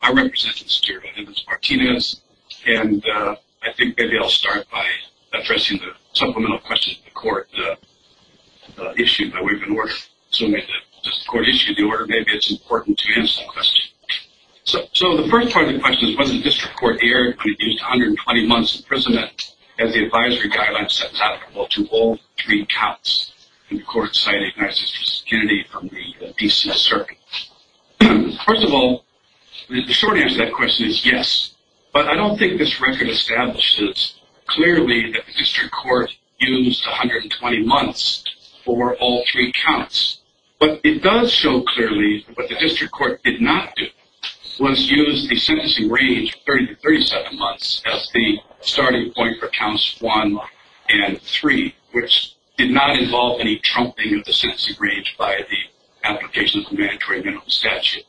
I represent the Superior Voters of the United States v. Jesus Evans-Martinez, and I think maybe I'll start by addressing the supplemental questions of the court issue that we've been working on. So maybe it's important to answer the question. So the first part of the question is, was the district court erred when it used 120 months imprisonment as the advisory guidelines set out? Well, to all three counts, the court cited United States v. Kennedy from the D.C. assertion. First of all, the short answer to that question is yes, but I don't think this record establishes clearly that the district court used 120 months for all three counts. What it does show clearly, what the district court did not do, was use the sentencing range of 30 to 37 months as the starting point for counts 1 and 3, which did not involve any trumping of the sentencing range by the application of the Mandatory Minimum Statute.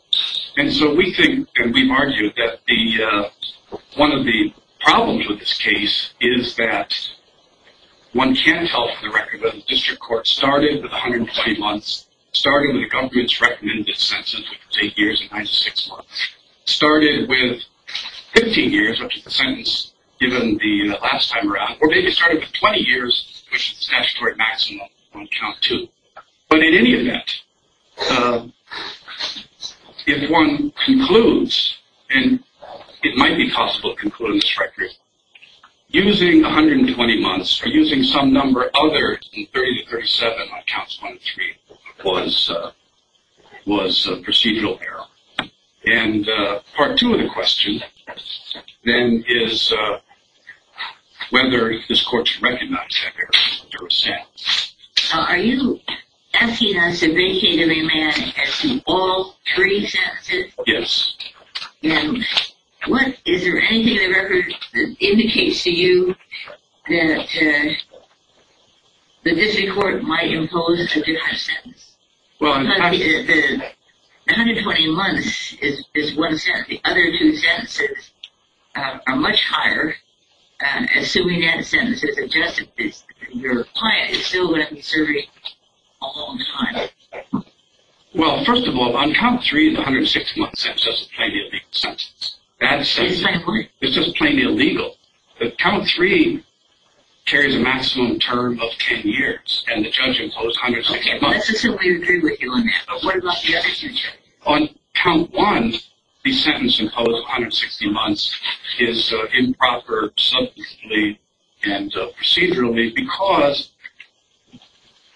And so we think, and we've argued, that one of the problems with this case is that one can tell from the record that the district court started with 120 months, started with the government's recommended sentence, which was 8 years and 96 months, started with 15 years, which is the sentence given the last time around, or maybe started with 20 years, which is the statutory maximum on count 2. But in any event, if one concludes, and it might be possible to conclude on this record, using 120 months or using some number other than 30 to 37 on counts 1 and 3 was a procedural error. And part 2 of the question, then, is whether this court should recognize that error through a sentence. Are you asking us to vacate a man as to all three sentences? Yes. Is there anything in the record that indicates to you that the district court might impose a different sentence? Well, in fact... 120 months is one sentence. The other two sentences are much higher, assuming that sentence is adjusted. Your client is still going to be serving a long time. Well, first of all, on count 3, the 160-month sentence is a plainly illegal sentence. It's just plainly illegal. But count 3 carries a maximum term of 10 years, and the judge imposed 160 months. Okay, let's just simply agree with you on that. But what about the other two sentences? On count 1, the sentence imposed on 160 months is improper substantively and procedurally because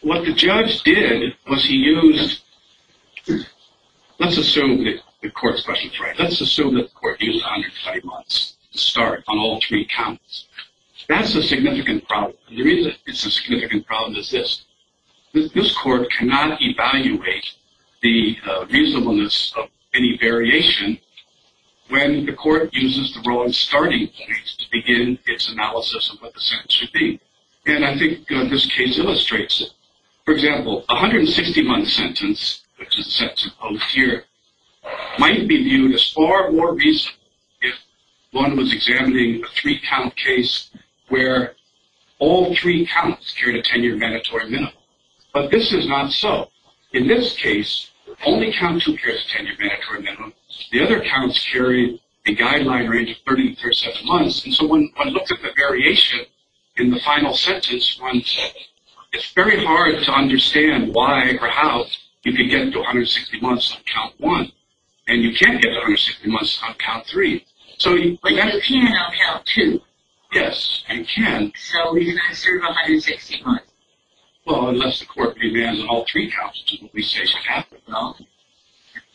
what the judge did was he used... Let's assume that the court's question is right. Let's assume that the court used 120 months to start on all three counts. That's a significant problem. The reason it's a significant problem is this. This court cannot evaluate the reasonableness of any variation when the court uses the wrong starting point to begin its analysis of what the sentence should be. And I think this case illustrates it. For example, a 160-month sentence, which is set to post here, might be viewed as far more reasonable if one was examining a three-count case where all three counts carried a 10-year mandatory minimum. But this is not so. In this case, only count 2 carries a 10-year mandatory minimum. The other counts carried a guideline range of 30 to 37 months. And so when one looks at the variation in the final sentence, it's very hard to understand why or how you can get to 160 months on count 1 and you can't get to 160 months on count 3. But you can on count 2. Yes, and you can. So we can assert 160 months. Well, unless the court demands all three counts, which is what we say should happen. Well,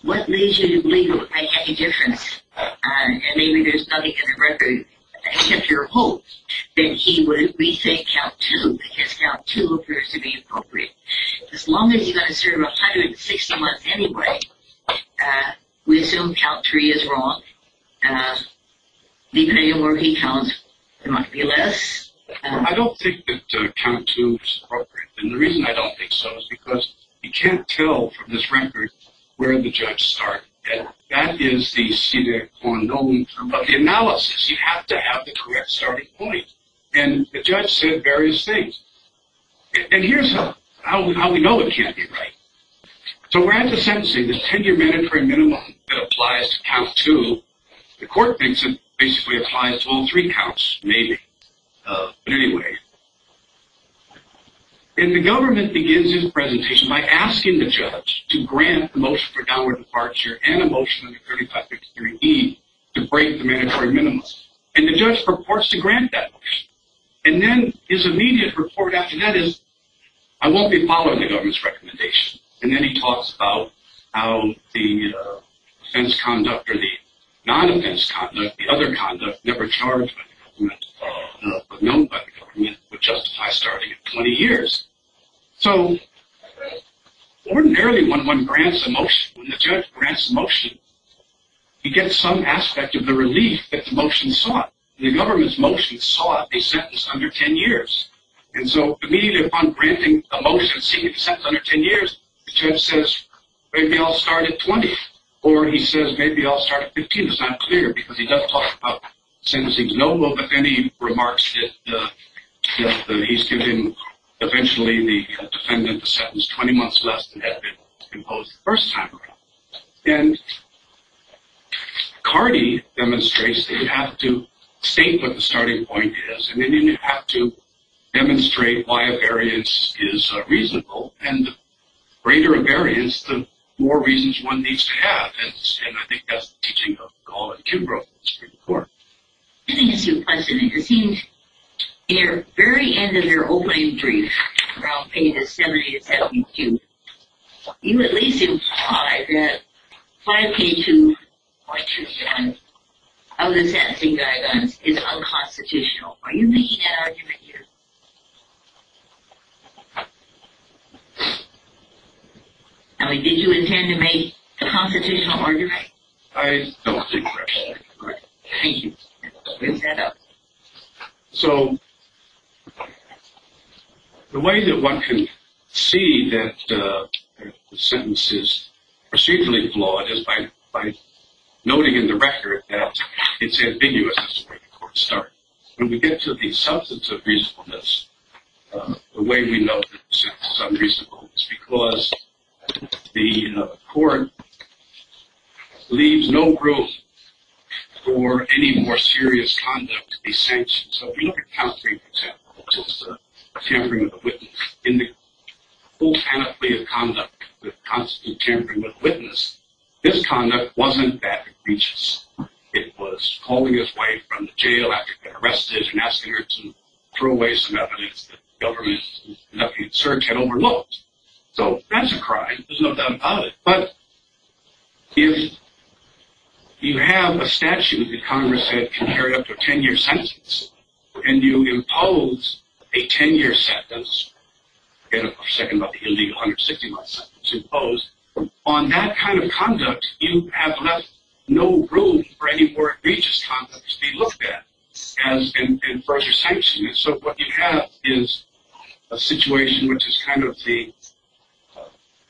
what leads you to believe it would make any difference? I mean, there's nothing in the record, except your hope, that he would rethink count 2 because count 2 appears to be appropriate. As long as you've got to serve 160 months anyway, we assume count 3 is wrong. Leave it anywhere where he counts, there might be less. And the reason I don't think so is because you can't tell from this record where the judge started. That is the sede qua non of the analysis. You have to have the correct starting point. And the judge said various things. And here's how we know it can't be right. So we're at the sentencing. There's a 10-year mandatory minimum that applies to count 2. The court thinks it basically applies to all three counts, maybe. But anyway. And the government begins his presentation by asking the judge to grant the motion for downward departure and a motion under 3553E to break the mandatory minimum. And the judge purports to grant that motion. And then his immediate report after that is, I won't be following the government's recommendation. And then he talks about how the offense conduct or the non-offense conduct, the other conduct, never charged by the government, but known by the government, would justify starting at 20 years. So ordinarily when one grants a motion, when the judge grants a motion, he gets some aspect of the relief that the motion sought. The government's motion sought a sentence under 10 years. And so immediately upon granting a motion seeking a sentence under 10 years, the judge says, maybe I'll start at 20. Or he says, maybe I'll start at 15. It's not clear because he doesn't talk about sentencing, no, but then he remarks that he's given eventually the defendant a sentence 20 months less than had been imposed the first time around. And Cardi demonstrates that you have to state what the starting point is. And then you have to demonstrate why a variance is reasonable. And the greater a variance, the more reasons one needs to have. And I think that's the teaching of Gall and Kimbrough in this report. Let me ask you a question. It seems in your very end of your opening brief, around pages 70 to 72, you at least implied that 5K2.2 of the sentencing diagrams is unconstitutional. Are you making that argument here? I mean, did you intend to make a constitutional argument? I don't think so. Thank you. So the way that one can see that the sentence is procedurally flawed is by noting in the record that it's ambiguous. When we get to the substance of reasonableness, the way we note that the sentence is unreasonable is because the court leaves no room for any more serious conduct to be sanctioned. So if you look at Count 3, for example, which is a tampering with a witness, in the full panoply of conduct that constitutes tampering with a witness, this conduct wasn't that egregious. It was pulling his wife from the jail after being arrested and asking her to throw away some evidence that the government had overlooked. So that's a crime. There's no doubt about it. But if you have a statute that Congress said can carry up to a 10-year sentence, and you impose a 10-year sentence, forget for a second about the illegal 160-month sentence imposed, on that kind of conduct you have left no room for any more egregious conduct to be looked at and further sanctioned. So what you have is a situation which is kind of the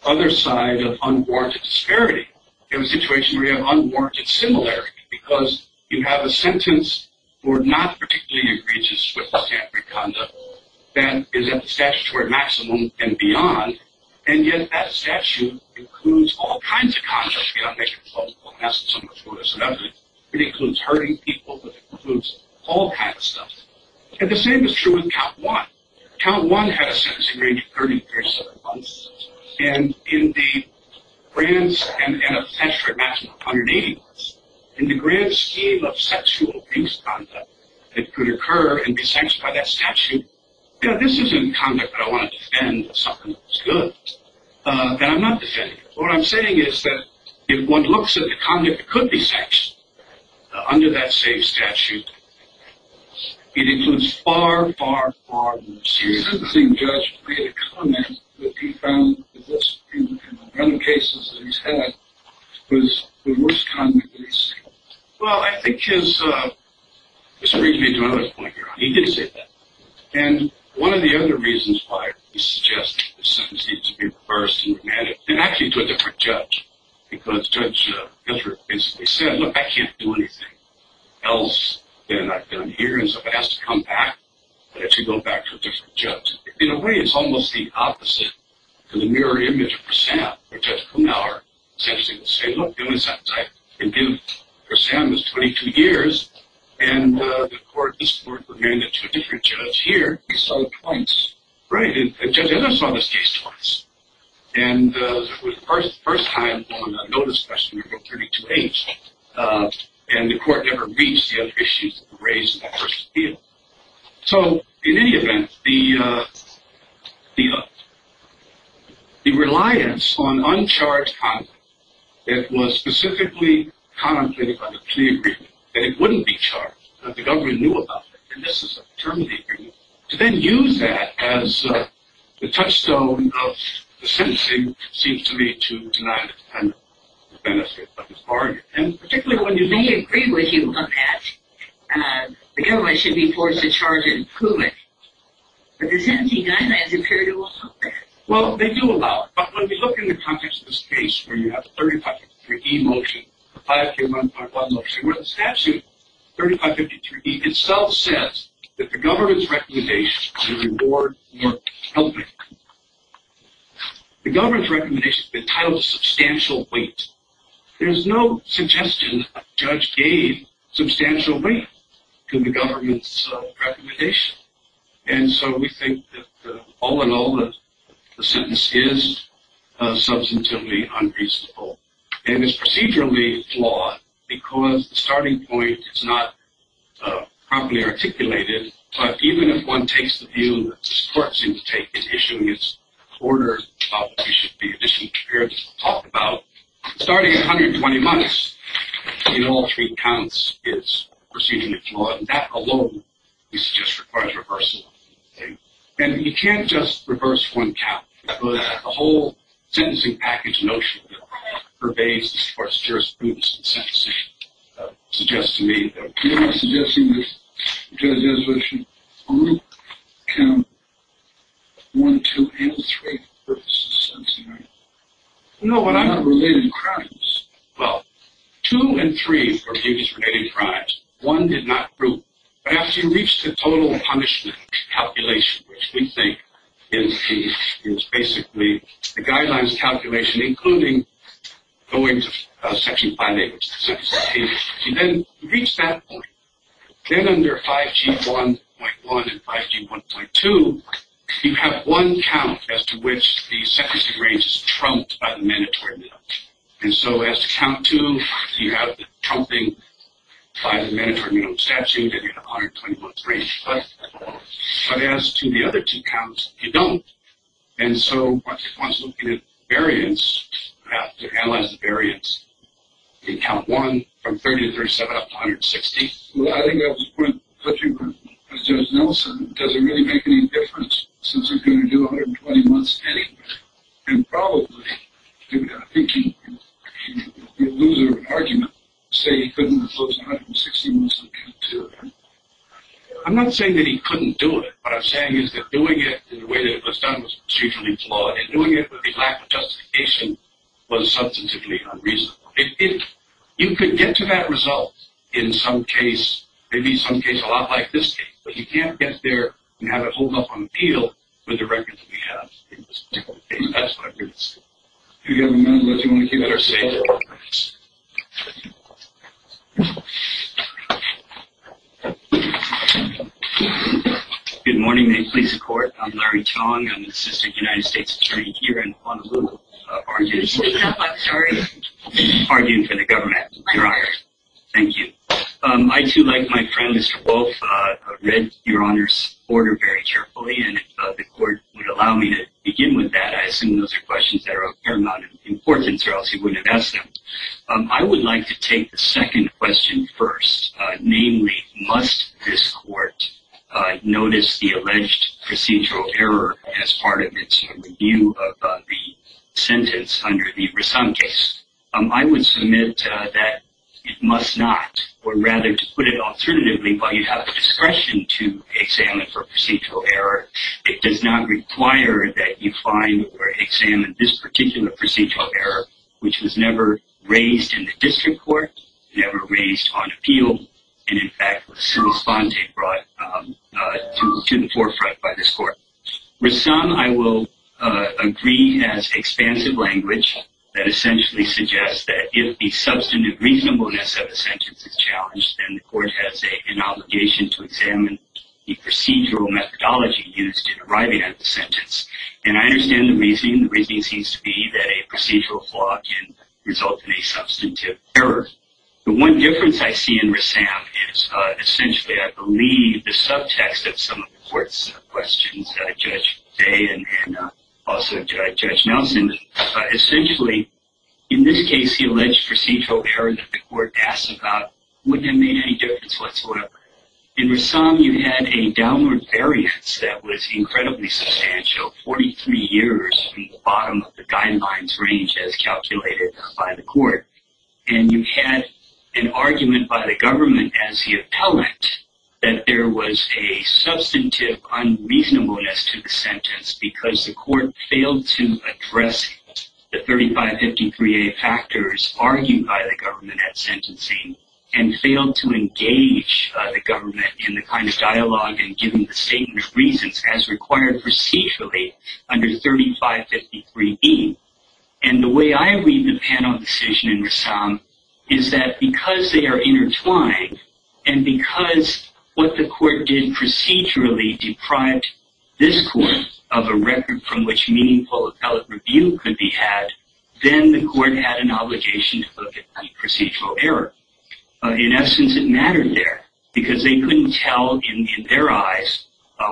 other side of unwarranted disparity. You have a situation where you have unwarranted similarity because you have a sentence for not particularly egregious with tampering conduct that is at the statutory maximum and beyond, and yet that statute includes all kinds of contracts. It includes hurting people. It includes all kinds of stuff. And the same is true with Count 1. Count 1 had a sentence in the range of 30 to 37 months, and in the grand scheme of sexual abuse conduct that could occur and be sanctioned by that statute, this isn't conduct that I want to defend as something that's good. That I'm not defending. What I'm saying is that if one looks at the conduct that could be sanctioned under that same statute, it includes far, far, far more serious conduct. This is the same judge who made a comment that he found in the random cases that he's had, was the worst conduct that he's seen. Well, I think his—this brings me to another point here. He did say that. And one of the other reasons why he suggested that the sentence need to be reversed and remanded, and actually to a different judge, because Judge Hiller basically said, look, I can't do anything else than I've done here, and so if it has to come back, let it go back to a different judge. In a way, it's almost the opposite to the mirror image for Sam, where Judge Kuhnhauer essentially would say, look, the only sentence I can give for Sam is 22 years, and the court is to remand it to a different judge here. He saw it twice. Right. And Judge Hiller saw this case twice. And it was the first time on a no-discussion report, 32-H, and the court never reached the other issues that were raised in that first appeal. So, in any event, the reliance on uncharged content that was specifically contemplated by the plea agreement, that it wouldn't be charged, that the government knew about it, and this is a term of the agreement, to then use that as the touchstone of the sentencing seems to me to deny the benefit of the bargain. I may agree with you on that. The government should be forced to charge it and prove it. But the sentencing guidelines appear to allow that. Well, they do allow it. But when we look in the context of this case where you have the 3553E motion, the 5K1.1 motion, where the statute, 3553E, itself says that the government's recommendation is a reward for helping. The government's recommendation has been titled substantial weight. There's no suggestion that the judge gave substantial weight to the government's recommendation. And so we think that all in all, the sentence is substantively unreasonable. And it's procedurally flawed because the starting point is not properly articulated. But even if one takes the view that this court seems to take, is issuing its order, we should be additionally prepared to talk about starting at 120 months, in all three counts, is procedurally flawed. And that alone, we suggest, requires reversal. And you can't just reverse one count. The whole sentencing package notion pervades the jurisprudence of the sentencing suggests to me that You're not suggesting that judges which group count 1, 2, and 3 for purposes of sentencing, right? No, but I'm not related to crimes. Well, 2 and 3 were judges related to crimes. 1 did not group. But after you reach the total punishment calculation, which we think is the, is basically the guidelines calculation, including going to Section 5A, you then reach that point. Then under 5G1.1 and 5G1.2, you have one count as to which the sentencing range is trumped by the mandatory minimum. And so as to count 2, you have the trumping by the mandatory minimum statute, and you have 120 months' range. But as to the other two counts, you don't. And so once one is looking at variance, you have to analyze the variance in count 1 from 30 to 37 up to 160. Well, I think that was the point that you were making. Judge Nelson, does it really make any difference since we're going to do 120 months anyway? And probably. I think you'd lose your argument to say he couldn't impose 160 months on count 2. I'm not saying that he couldn't do it. What I'm saying is that doing it in the way that it was done was procedurally flawed, and doing it with the lack of justification was substantively unreasonable. You could get to that result in some case, maybe some case a lot like this case, but you can't get there and have it hold up on the field with the records we have. That's what I'm getting at. Do you have a moment, or do you want to keep it or stay? Good morning. May it please the Court. I'm Larry Chong. I'm the Assistant United States Attorney here in Honolulu, arguing for the government. Thank you. I, too, like my friend, Mr. Wolf, read your Honor's order very carefully, and if the Court would allow me to begin with that. I assume those are questions that are of paramount importance, or else you wouldn't have asked them. I would like to take the second question first, namely, must this Court notice the alleged procedural error as part of its review of the sentence under the Rassam case? I would submit that it must not, or rather, to put it alternatively, while you have the discretion to examine for procedural error, it does not require that you find or examine this particular procedural error, which was never raised in the district court, never raised on appeal, and, in fact, the civil spontane brought to the forefront by this Court. Rassam, I will agree, has expansive language that essentially suggests that if the substantive reasonableness of the sentence is challenged, then the Court has an obligation to examine the procedural methodology used in arriving at the sentence, and I understand the reasoning. The reasoning seems to be that a procedural flaw can result in a substantive error. The one difference I see in Rassam is essentially, I believe, the subtext of some of the Court's questions, Judge Day and also Judge Nelson, and essentially, in this case, the alleged procedural error that the Court asked about wouldn't have made any difference whatsoever. In Rassam, you had a downward variance that was incredibly substantial, 43 years from the bottom of the guidelines range as calculated by the Court, and you had an argument by the government as the appellant that there was a substantive unreasonableness to the sentence because the Court failed to address the 3553A factors argued by the government at sentencing and failed to engage the government in the kind of dialogue and giving the statement of reasons as required procedurally under 3553B. And the way I read the panel decision in Rassam is that because they are intertwined and because what the Court did procedurally deprived this Court of a record from which meaningful appellate review could be had, then the Court had an obligation to look at procedural error. In essence, it mattered there because they couldn't tell in their eyes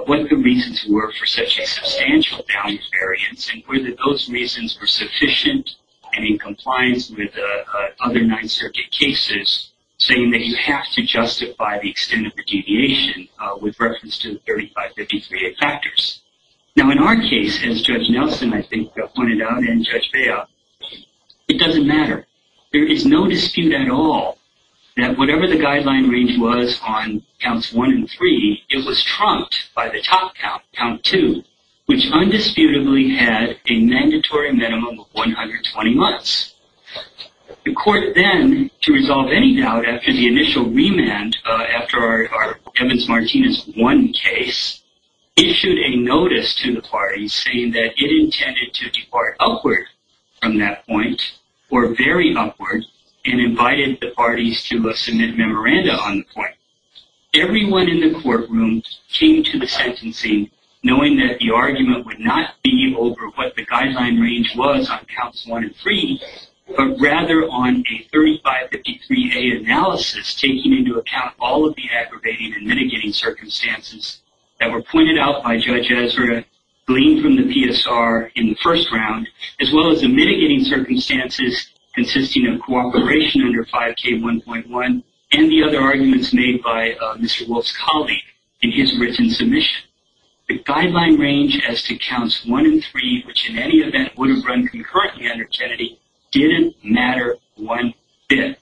what the reasons were for such a substantial value variance and whether those reasons were sufficient and in compliance with other Ninth Circuit cases saying that you have to justify the extent of the deviation with reference to the 3553A factors. Now, in our case, as Judge Nelson, I think, pointed out and Judge Bail, it doesn't matter. There is no dispute at all that whatever the guideline range was on counts one and three, it was trumped by the top count, count two, which undisputably had a mandatory minimum of 120 months. The Court then, to resolve any doubt after the initial remand after our Evans-Martinez one case, issued a notice to the parties saying that it intended to depart upward from that point or very upward and invited the parties to submit memoranda on the point. Everyone in the courtroom came to the sentencing knowing that the argument would not be over what the guideline range was on counts one and three, but rather on a 3553A analysis taking into account all of the aggravating and mitigating circumstances that were pointed out by Judge Ezra, gleaned from the PSR in the first round, as well as the mitigating circumstances consisting of cooperation under 5K1.1 and the other arguments made by Mr. Wolf's colleague in his written submission. The guideline range as to counts one and three, which in any event would have run concurrently under Kennedy, didn't matter one bit.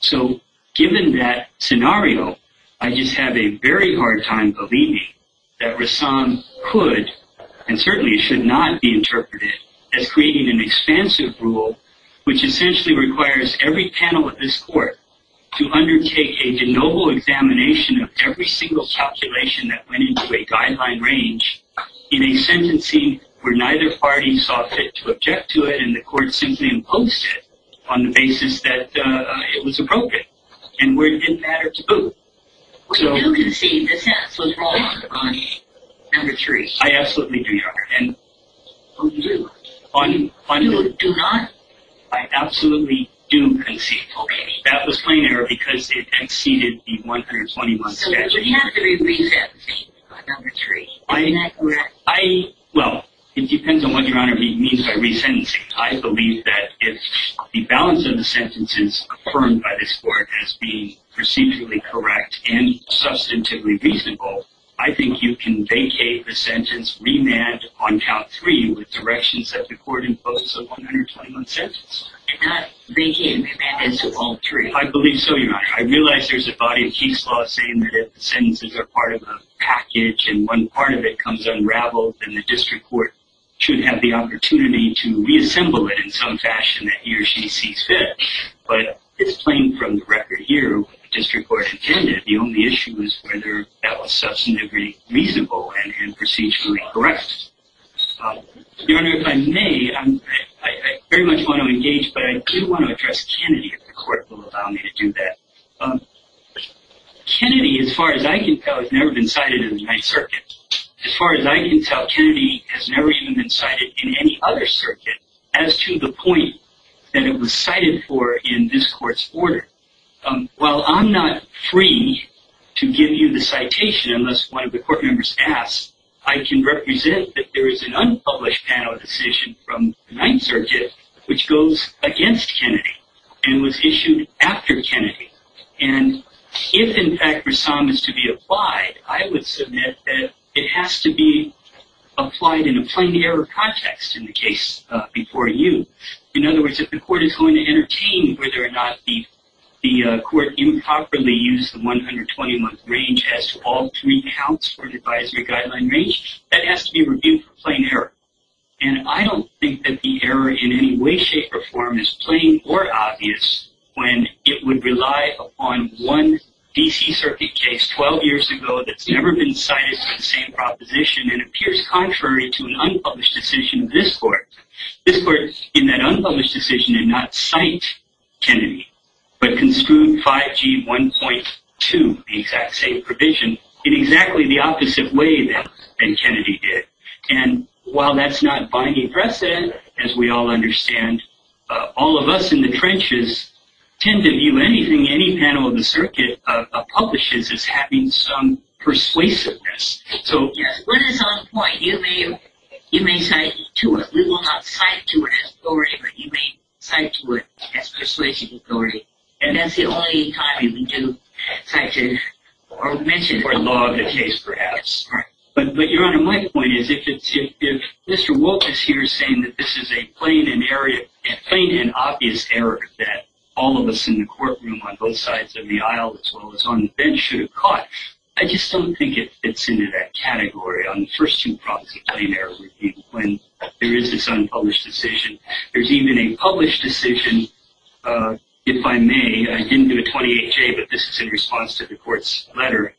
So given that scenario, I just have a very hard time believing that Rassam could, and certainly should not be interpreted as creating an expansive rule which essentially requires every panel of this Court to undertake a de novo examination of every single calculation that went into a guideline range in a sentencing where neither party saw fit to object to it and the Court simply imposed it on the basis that it was appropriate. And it didn't matter to whom. Well, you concede the sentence was wrong on number three. I absolutely do, Your Honor. On whom? On whom? You do not. I absolutely do concede. That was plain error because it exceeded the 121 statute. So you have to re-sentence it on number three. Isn't that correct? Well, it depends on what Your Honor means by re-sentencing. I believe that if the balance of the sentences confirmed by this Court as being procedurally correct and substantively reasonable, I think you can vacate the sentence remand on count three with directions that the Court imposed on the 121 sentence. I cannot vacate remand as of all three. I believe so, Your Honor. I realize there's a body of case law saying that if the sentences are part of a package and one part of it comes unraveled, then the district court should have the opportunity to reassemble it in some fashion that he or she sees fit. But it's plain from the record here what the district court intended. The only issue is whether that was substantively reasonable and procedurally correct. Your Honor, if I may, I very much want to engage, but I do want to address Kennedy if the Court will allow me to do that. Kennedy, as far as I can tell, has never been cited in the United Circuit. As far as I can tell, Kennedy has never even been cited in any other circuit as to the point that it was cited for in this Court's order. While I'm not free to give you the citation unless one of the Court members asks, I can represent that there is an unpublished panel decision from the Ninth Circuit which goes against Kennedy and was issued after Kennedy. And if, in fact, Rassam is to be applied, I would submit that it has to be applied in a plain-error context in the case before you. In other words, if the Court is going to entertain whether or not the Court improperly used the 120-month range as to all three counts for advisory guideline range, that has to be reviewed for plain error. And I don't think that the error in any way, shape, or form is plain or obvious when it would rely upon one D.C. Circuit case 12 years ago that's never been cited for the same proposition and appears contrary to an unpublished decision of this Court. This Court, in that unpublished decision, did not cite Kennedy, but construed 5G 1.2, the exact same provision, in exactly the opposite way that Kennedy did. And while that's not binding precedent, as we all understand, all of us in the trenches tend to view anything any panel of the Circuit publishes as having some persuasiveness. Yes, but it's on point. You may cite to it. But you may cite to it as persuasion authority. And that's the only time you would cite to it or mention it. Or log the case, perhaps. But, Your Honor, my point is if Mr. Wolfe is here saying that this is a plain and obvious error that all of us in the courtroom on both sides of the aisle, as well as on the bench, should have caught, I just don't think it fits into that category on the first two prompts of plain error review when there is this unpublished decision. There's even a published decision, if I may. I didn't give a 28-J, but this is in response to the Court's letter.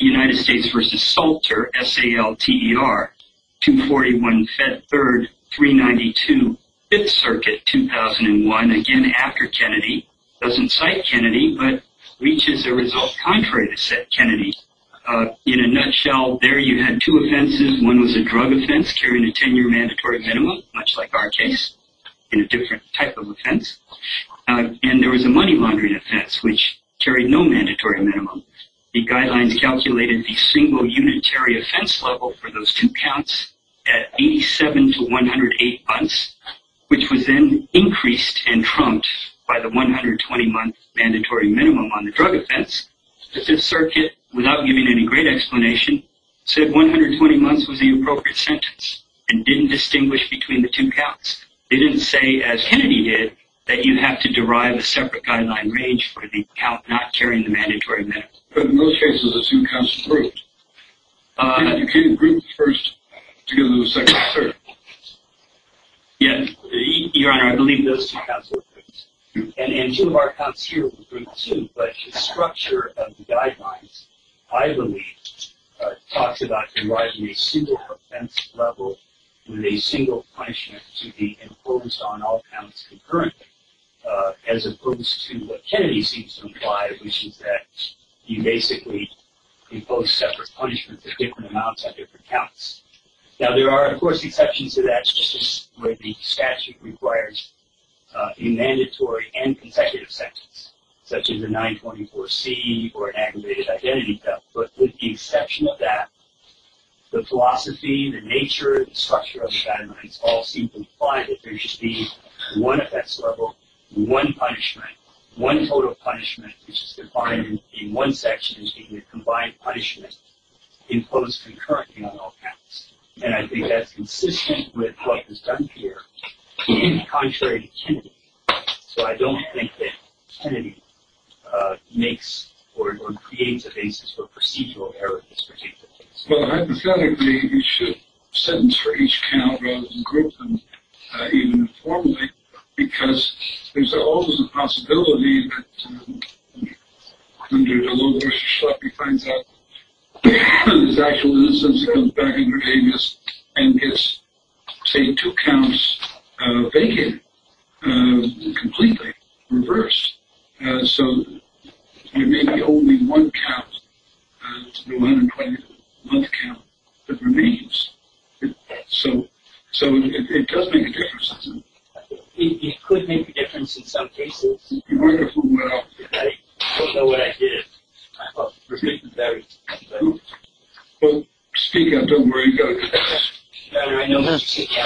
United States v. Salter, S-A-L-T-E-R, 241 Fed 3rd, 392 Fifth Circuit, 2001. Again, after Kennedy. Doesn't cite Kennedy, but reaches a result contrary to said Kennedy. In a nutshell, there you had two offenses. One was a drug offense carrying a 10-year mandatory minimum, much like our case, in a different type of offense. And there was a money laundering offense, which carried no mandatory minimum. The guidelines calculated the single unitary offense level for those two counts at 87 to 108 months, which was then increased and trumped by the 120-month mandatory minimum on the drug offense. The Fifth Circuit, without giving any great explanation, said 120 months was the appropriate sentence and didn't distinguish between the two counts. They didn't say, as Kennedy did, that you have to derive a separate guideline range for the count not carrying the mandatory minimum. But in those cases, the two counts were grouped. You couldn't group them first to give them a second assertion. Yes, Your Honor, I believe those two counts were grouped. And two of our counts here were grouped, too. But the structure of the guidelines, I believe, talks about deriving a single offense level with a single punishment to be imposed on all counts concurrently, as opposed to what Kennedy seems to imply, which is that you basically impose separate punishments at different amounts at different counts. Now, there are, of course, exceptions to that. This is where the statute requires a mandatory and consecutive sentence, such as a 924C or an aggravated identity theft. But with the exception of that, the philosophy, the nature, the structure of the guidelines all seem to imply that there should be one offense level, one punishment. One total punishment, which is defined in one section as being a combined punishment, imposed concurrently on all counts. And I think that's consistent with what is done here, contrary to Kennedy. So I don't think that Kennedy makes or creates a basis for procedural error in this particular case. Well, hypothetically, you should sentence for each count rather than group them, even informally, because there's always a possibility that when you do a little extra stuff, he finds out that his actual innocence comes back in your name, and gets, say, two counts vacant completely, reversed. So there may be only one count, the 120-month count, that remains. So it does make a difference, doesn't it? It could make a difference in some cases. I don't know what I did. Well, speak up. Don't worry about it. I know how to sit down.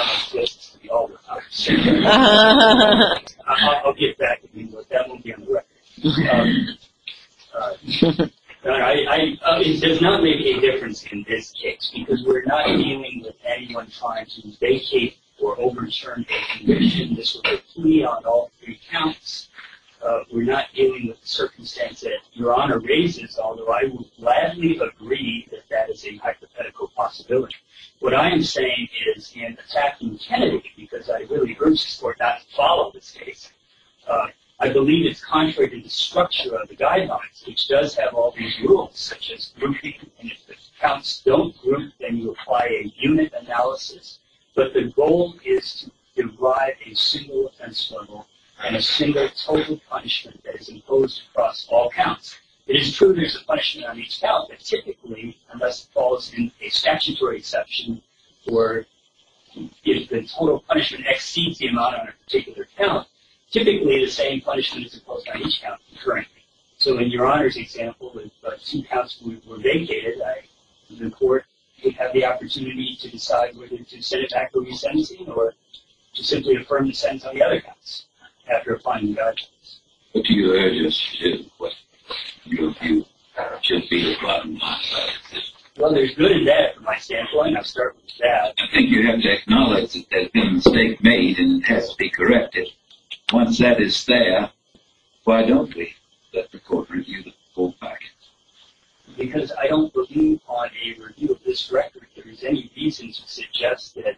I'll get back to you, but that won't be on the record. It does not make a difference in this case, because we're not dealing with anyone trying to vacate or overturn their conviction. This would be a plea on all three counts. We're not dealing with the circumstance that Your Honor raises, although I would gladly agree that that is a hypothetical possibility. What I am saying is, in attacking Kennedy, because I really urge the Court not to follow this case, I believe it's contrary to the structure of the Guidelines, which does have all these rules, such as grouping, and if the counts don't group, then you apply a unit analysis. But the goal is to derive a single offense level and a single total punishment that is imposed across all counts. It is true there's a punishment on each count, but typically, unless it falls in a statutory exception, or if the total punishment exceeds the amount on a particular count, typically the same punishment is imposed on each count concurrently. So in Your Honor's example, if two counts were vacated, the Court could have the opportunity to decide whether to send it back to re-sentencing or to simply affirm the sentence on the other counts after applying the Guidelines. What do you urge us to do? What do you view should be the bottom line? Well, there's good and bad from my standpoint. I'll start with the bad. I think you have to acknowledge that there's been a mistake made and it has to be corrected. Once that is there, why don't we let the Court review the full package? Because I don't believe on a review of this record there is any reason to suggest that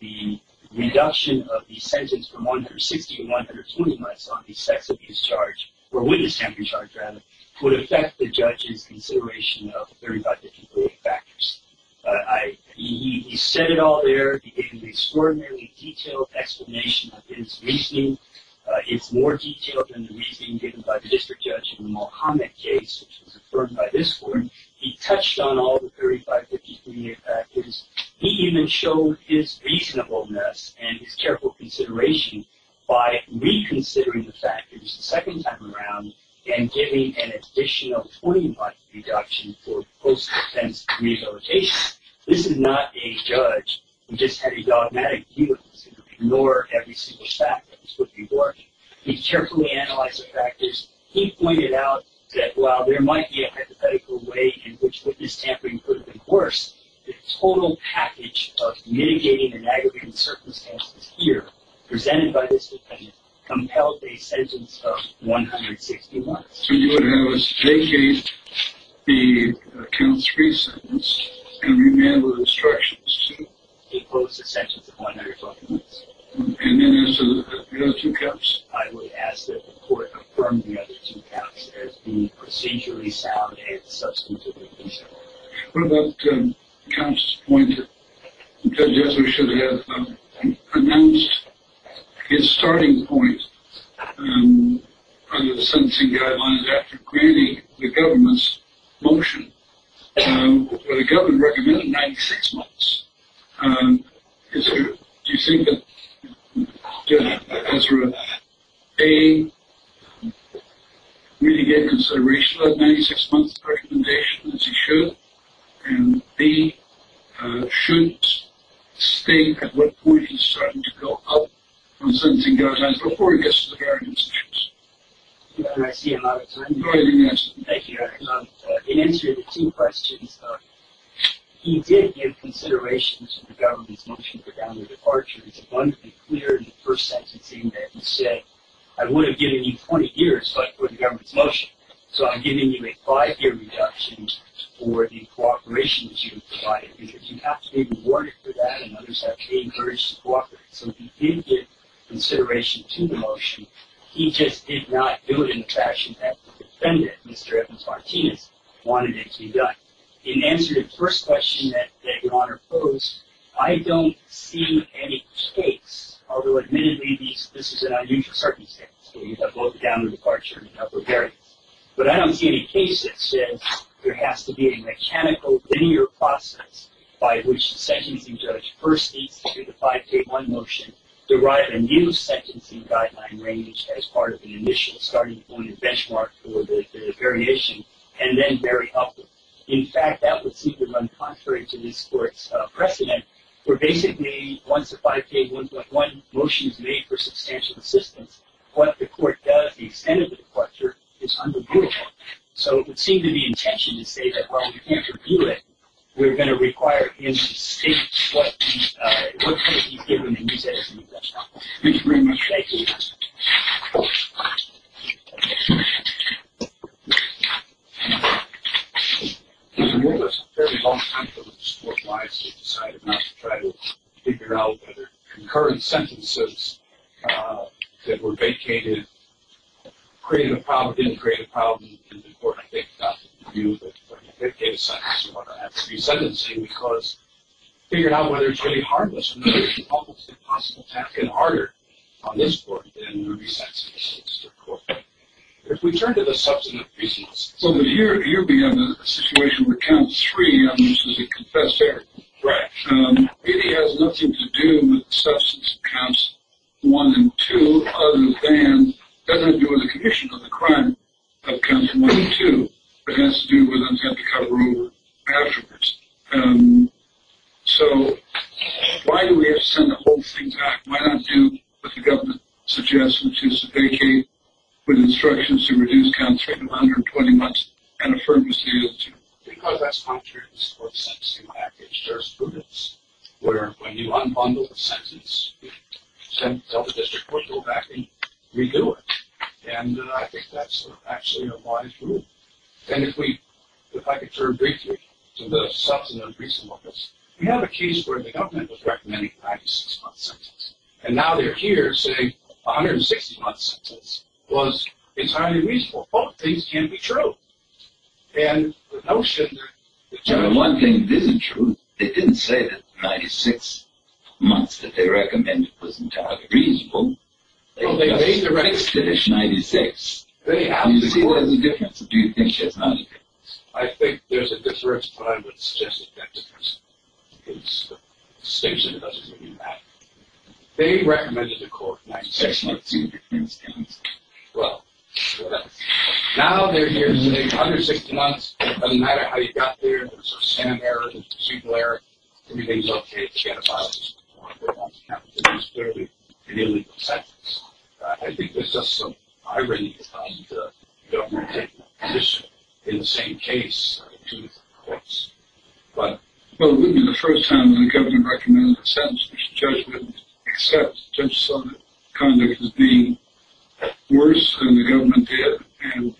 the reduction of the sentence from 160 to 120 months on the sex abuse charge, or witness tampering charge, rather, would affect the judge's consideration of the 35 different claim factors. He said it all there. He gave an extraordinarily detailed explanation of his reasoning. It's more detailed than the reasoning given by the District Judge in the Mohamed case, which was affirmed by this Court. He touched on all the 35 different factors. He even showed his reasonableness and his careful consideration by reconsidering the factors the second time around and giving an additional 20-month reduction for post-defense rehabilitation. This is not a judge who just had a dogmatic view of this, who could ignore every single fact that this would be working. He carefully analyzed the factors. He pointed out that while there might be a hypothetical way in which witness tampering could have been worse, the total package of mitigating and aggravating circumstances here, presented by this defendant, compelled a sentence of 160 months. So you would have us vacate the count 3 sentence and remand with instructions to impose a sentence of 120 months. And then answer the other two counts? I would ask that the Court affirm the other two counts as being procedurally sound and substantively reasonable. What about Counsel's point that Judge Esler should have announced his starting point under the sentencing guidelines after granting the government's motion, where the government recommended 96 months? Do you think that Judge Esler, A, really gave consideration to that 96-month recommendation, as he should, and B, should state at what point he's starting to go up on sentencing guidelines before he gets to the guarantee instructions? I see him out of time. Thank you, Your Honor. In answer to the two questions, he did give consideration to the government's motion for downward departure. It's abundantly clear in the first sentencing that he said, I would have given you 20 years, but for the government's motion, so I'm giving you a five-year reduction for the cooperation that you've provided, because you have to be rewarded for that and, on the other side, be encouraged to cooperate. So he did give consideration to the motion. He just did not do it in the fashion that the defendant, Mr. Evans-Martinez, wanted it to be done. In answer to the first question that Your Honor posed, I don't see any case, although admittedly this is an unusual circumstance where you have both downward departure and upward variance, but I don't see any case that says there has to be a mechanical linear process by which the sentencing judge first needs to do the 5K1 motion, derive a new sentencing guideline range as part of an initial starting point and benchmark for the variation, and then bury up. In fact, that would seem to run contrary to this Court's precedent, where basically once the 5K1.1 motion is made for substantial assistance, what the Court does, the extent of the departure, is undeniable. So it would seem to be the intention to say that while you can't repeal it, we're going to require him to state what case he's given and use that as an example. Thank you very much. Thank you. It was a very long time for the court-wise. They decided not to try to figure out whether concurrent sentences that were vacated created a problem, didn't create a problem, and the court, I think, got the view that it gave a sense of what it had to be sentencing because it figured out whether it's really harmless or not. It's an almost impossible task, and harder on this Court than it would be sentencing a sister court. If we turn to the substantive reasons. So you'll be in a situation with count three, and this is a confessed error. Right. It has nothing to do with the substance of counts one and two, other than it doesn't have to do with the condition of the crime of counts one and two. It has to do with them having to cover over afterwards. So why do we have to send the whole thing back? Why not do what the government suggests, which is to vacate with instructions to reduce counts from 120 months and affirm misuse? Because that's contrary to this Court's sentencing package. There's prudence where when you unbundle the sentence, you tell the district court to go back and redo it, and I think that's actually a wise rule. And if we, if I could turn briefly to the substantive reasons of this, we have a case where the government was recommending a 96-month sentence, and now they're here saying a 160-month sentence was entirely reasonable. Both things can be true. And the notion that... Well, one thing isn't true. They didn't say that 96 months that they recommended was entirely reasonable. Well, they made the recommendation... They just finished 96. They absolutely... Do you see there's a difference? Do you think there's not a difference? I think there's a difference, but I would suggest that there's a distinction that doesn't really matter. They recommended the court 96 months. I just want to see if there's a difference. Well, what else? Now they're here saying 160 months, it doesn't matter how you got there. There's a scan error, there's a procedural error. Everything's okay. It's not a violation. It's not necessarily an illegal sentence. I think there's just some irony to the government taking a position in the same case to the courts. Well, it wouldn't be the first time when the government recommended a sentence except judges saw that conduct was being worse than the government did and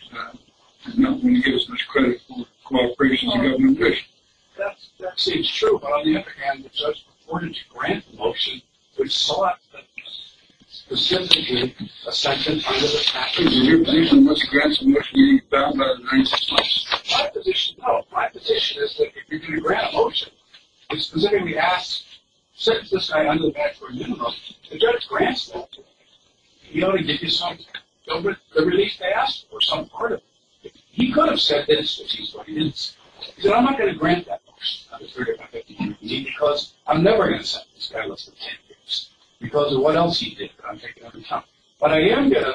did not want to give as much credit for cooperation as the government wished. That seems true. But on the other hand, the judge reported to grant the motion, which sought specifically a sentence under the statute of limitations. Is your position what's granting what you found out in 96 months? My position, no. My position is that if you're going to grant a motion, it's specifically asked, sentence this guy under the statute of limitations. The judge grants that to him. He only gives you some time. The release they asked for some part of it. He could have said this, which is what he didn't say. He said, I'm not going to grant that motion. I'm afraid I'm not going to give it to you because I'm never going to sentence this guy less than 10 years because of what else he did that I'm taking on account. But I am going to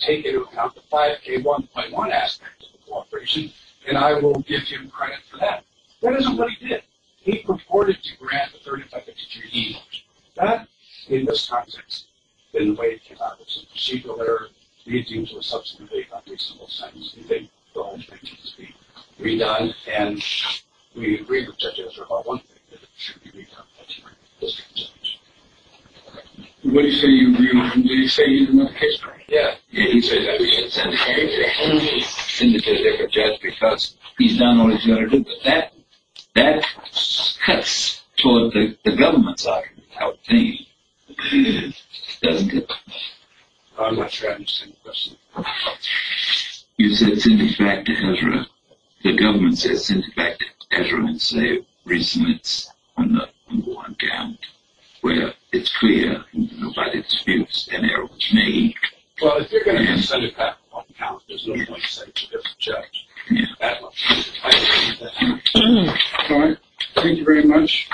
take into account the 5K1.1 aspect of the cooperation, and I will give him credit for that. That isn't what he did. He purported to grant the 3rd Infectious Disease Motion. That, in this context, in the way it came out, was a procedural error, leading to a subsequent vague, unreasonable sentence. We think the whole thing needs to be redone, and we agree with Judge Ezra about one thing, that it should be redone. That's what he said. What did he say? Did he say he didn't have a case to write? Yeah. He said that he didn't send a case. He didn't send a case to a judge because he's done all he's got to do. But that cuts toward the government's argument, how it came. Doesn't it? I'm not sure I understand the question. You said send it back to Ezra. The government said send it back to Ezra and say reason it's on the 1 count, where it's clear that it's an error was made. Well, if you're going to send it back on the 1 count, there's no point in sending it to this judge. That one. All right. Thank you very much.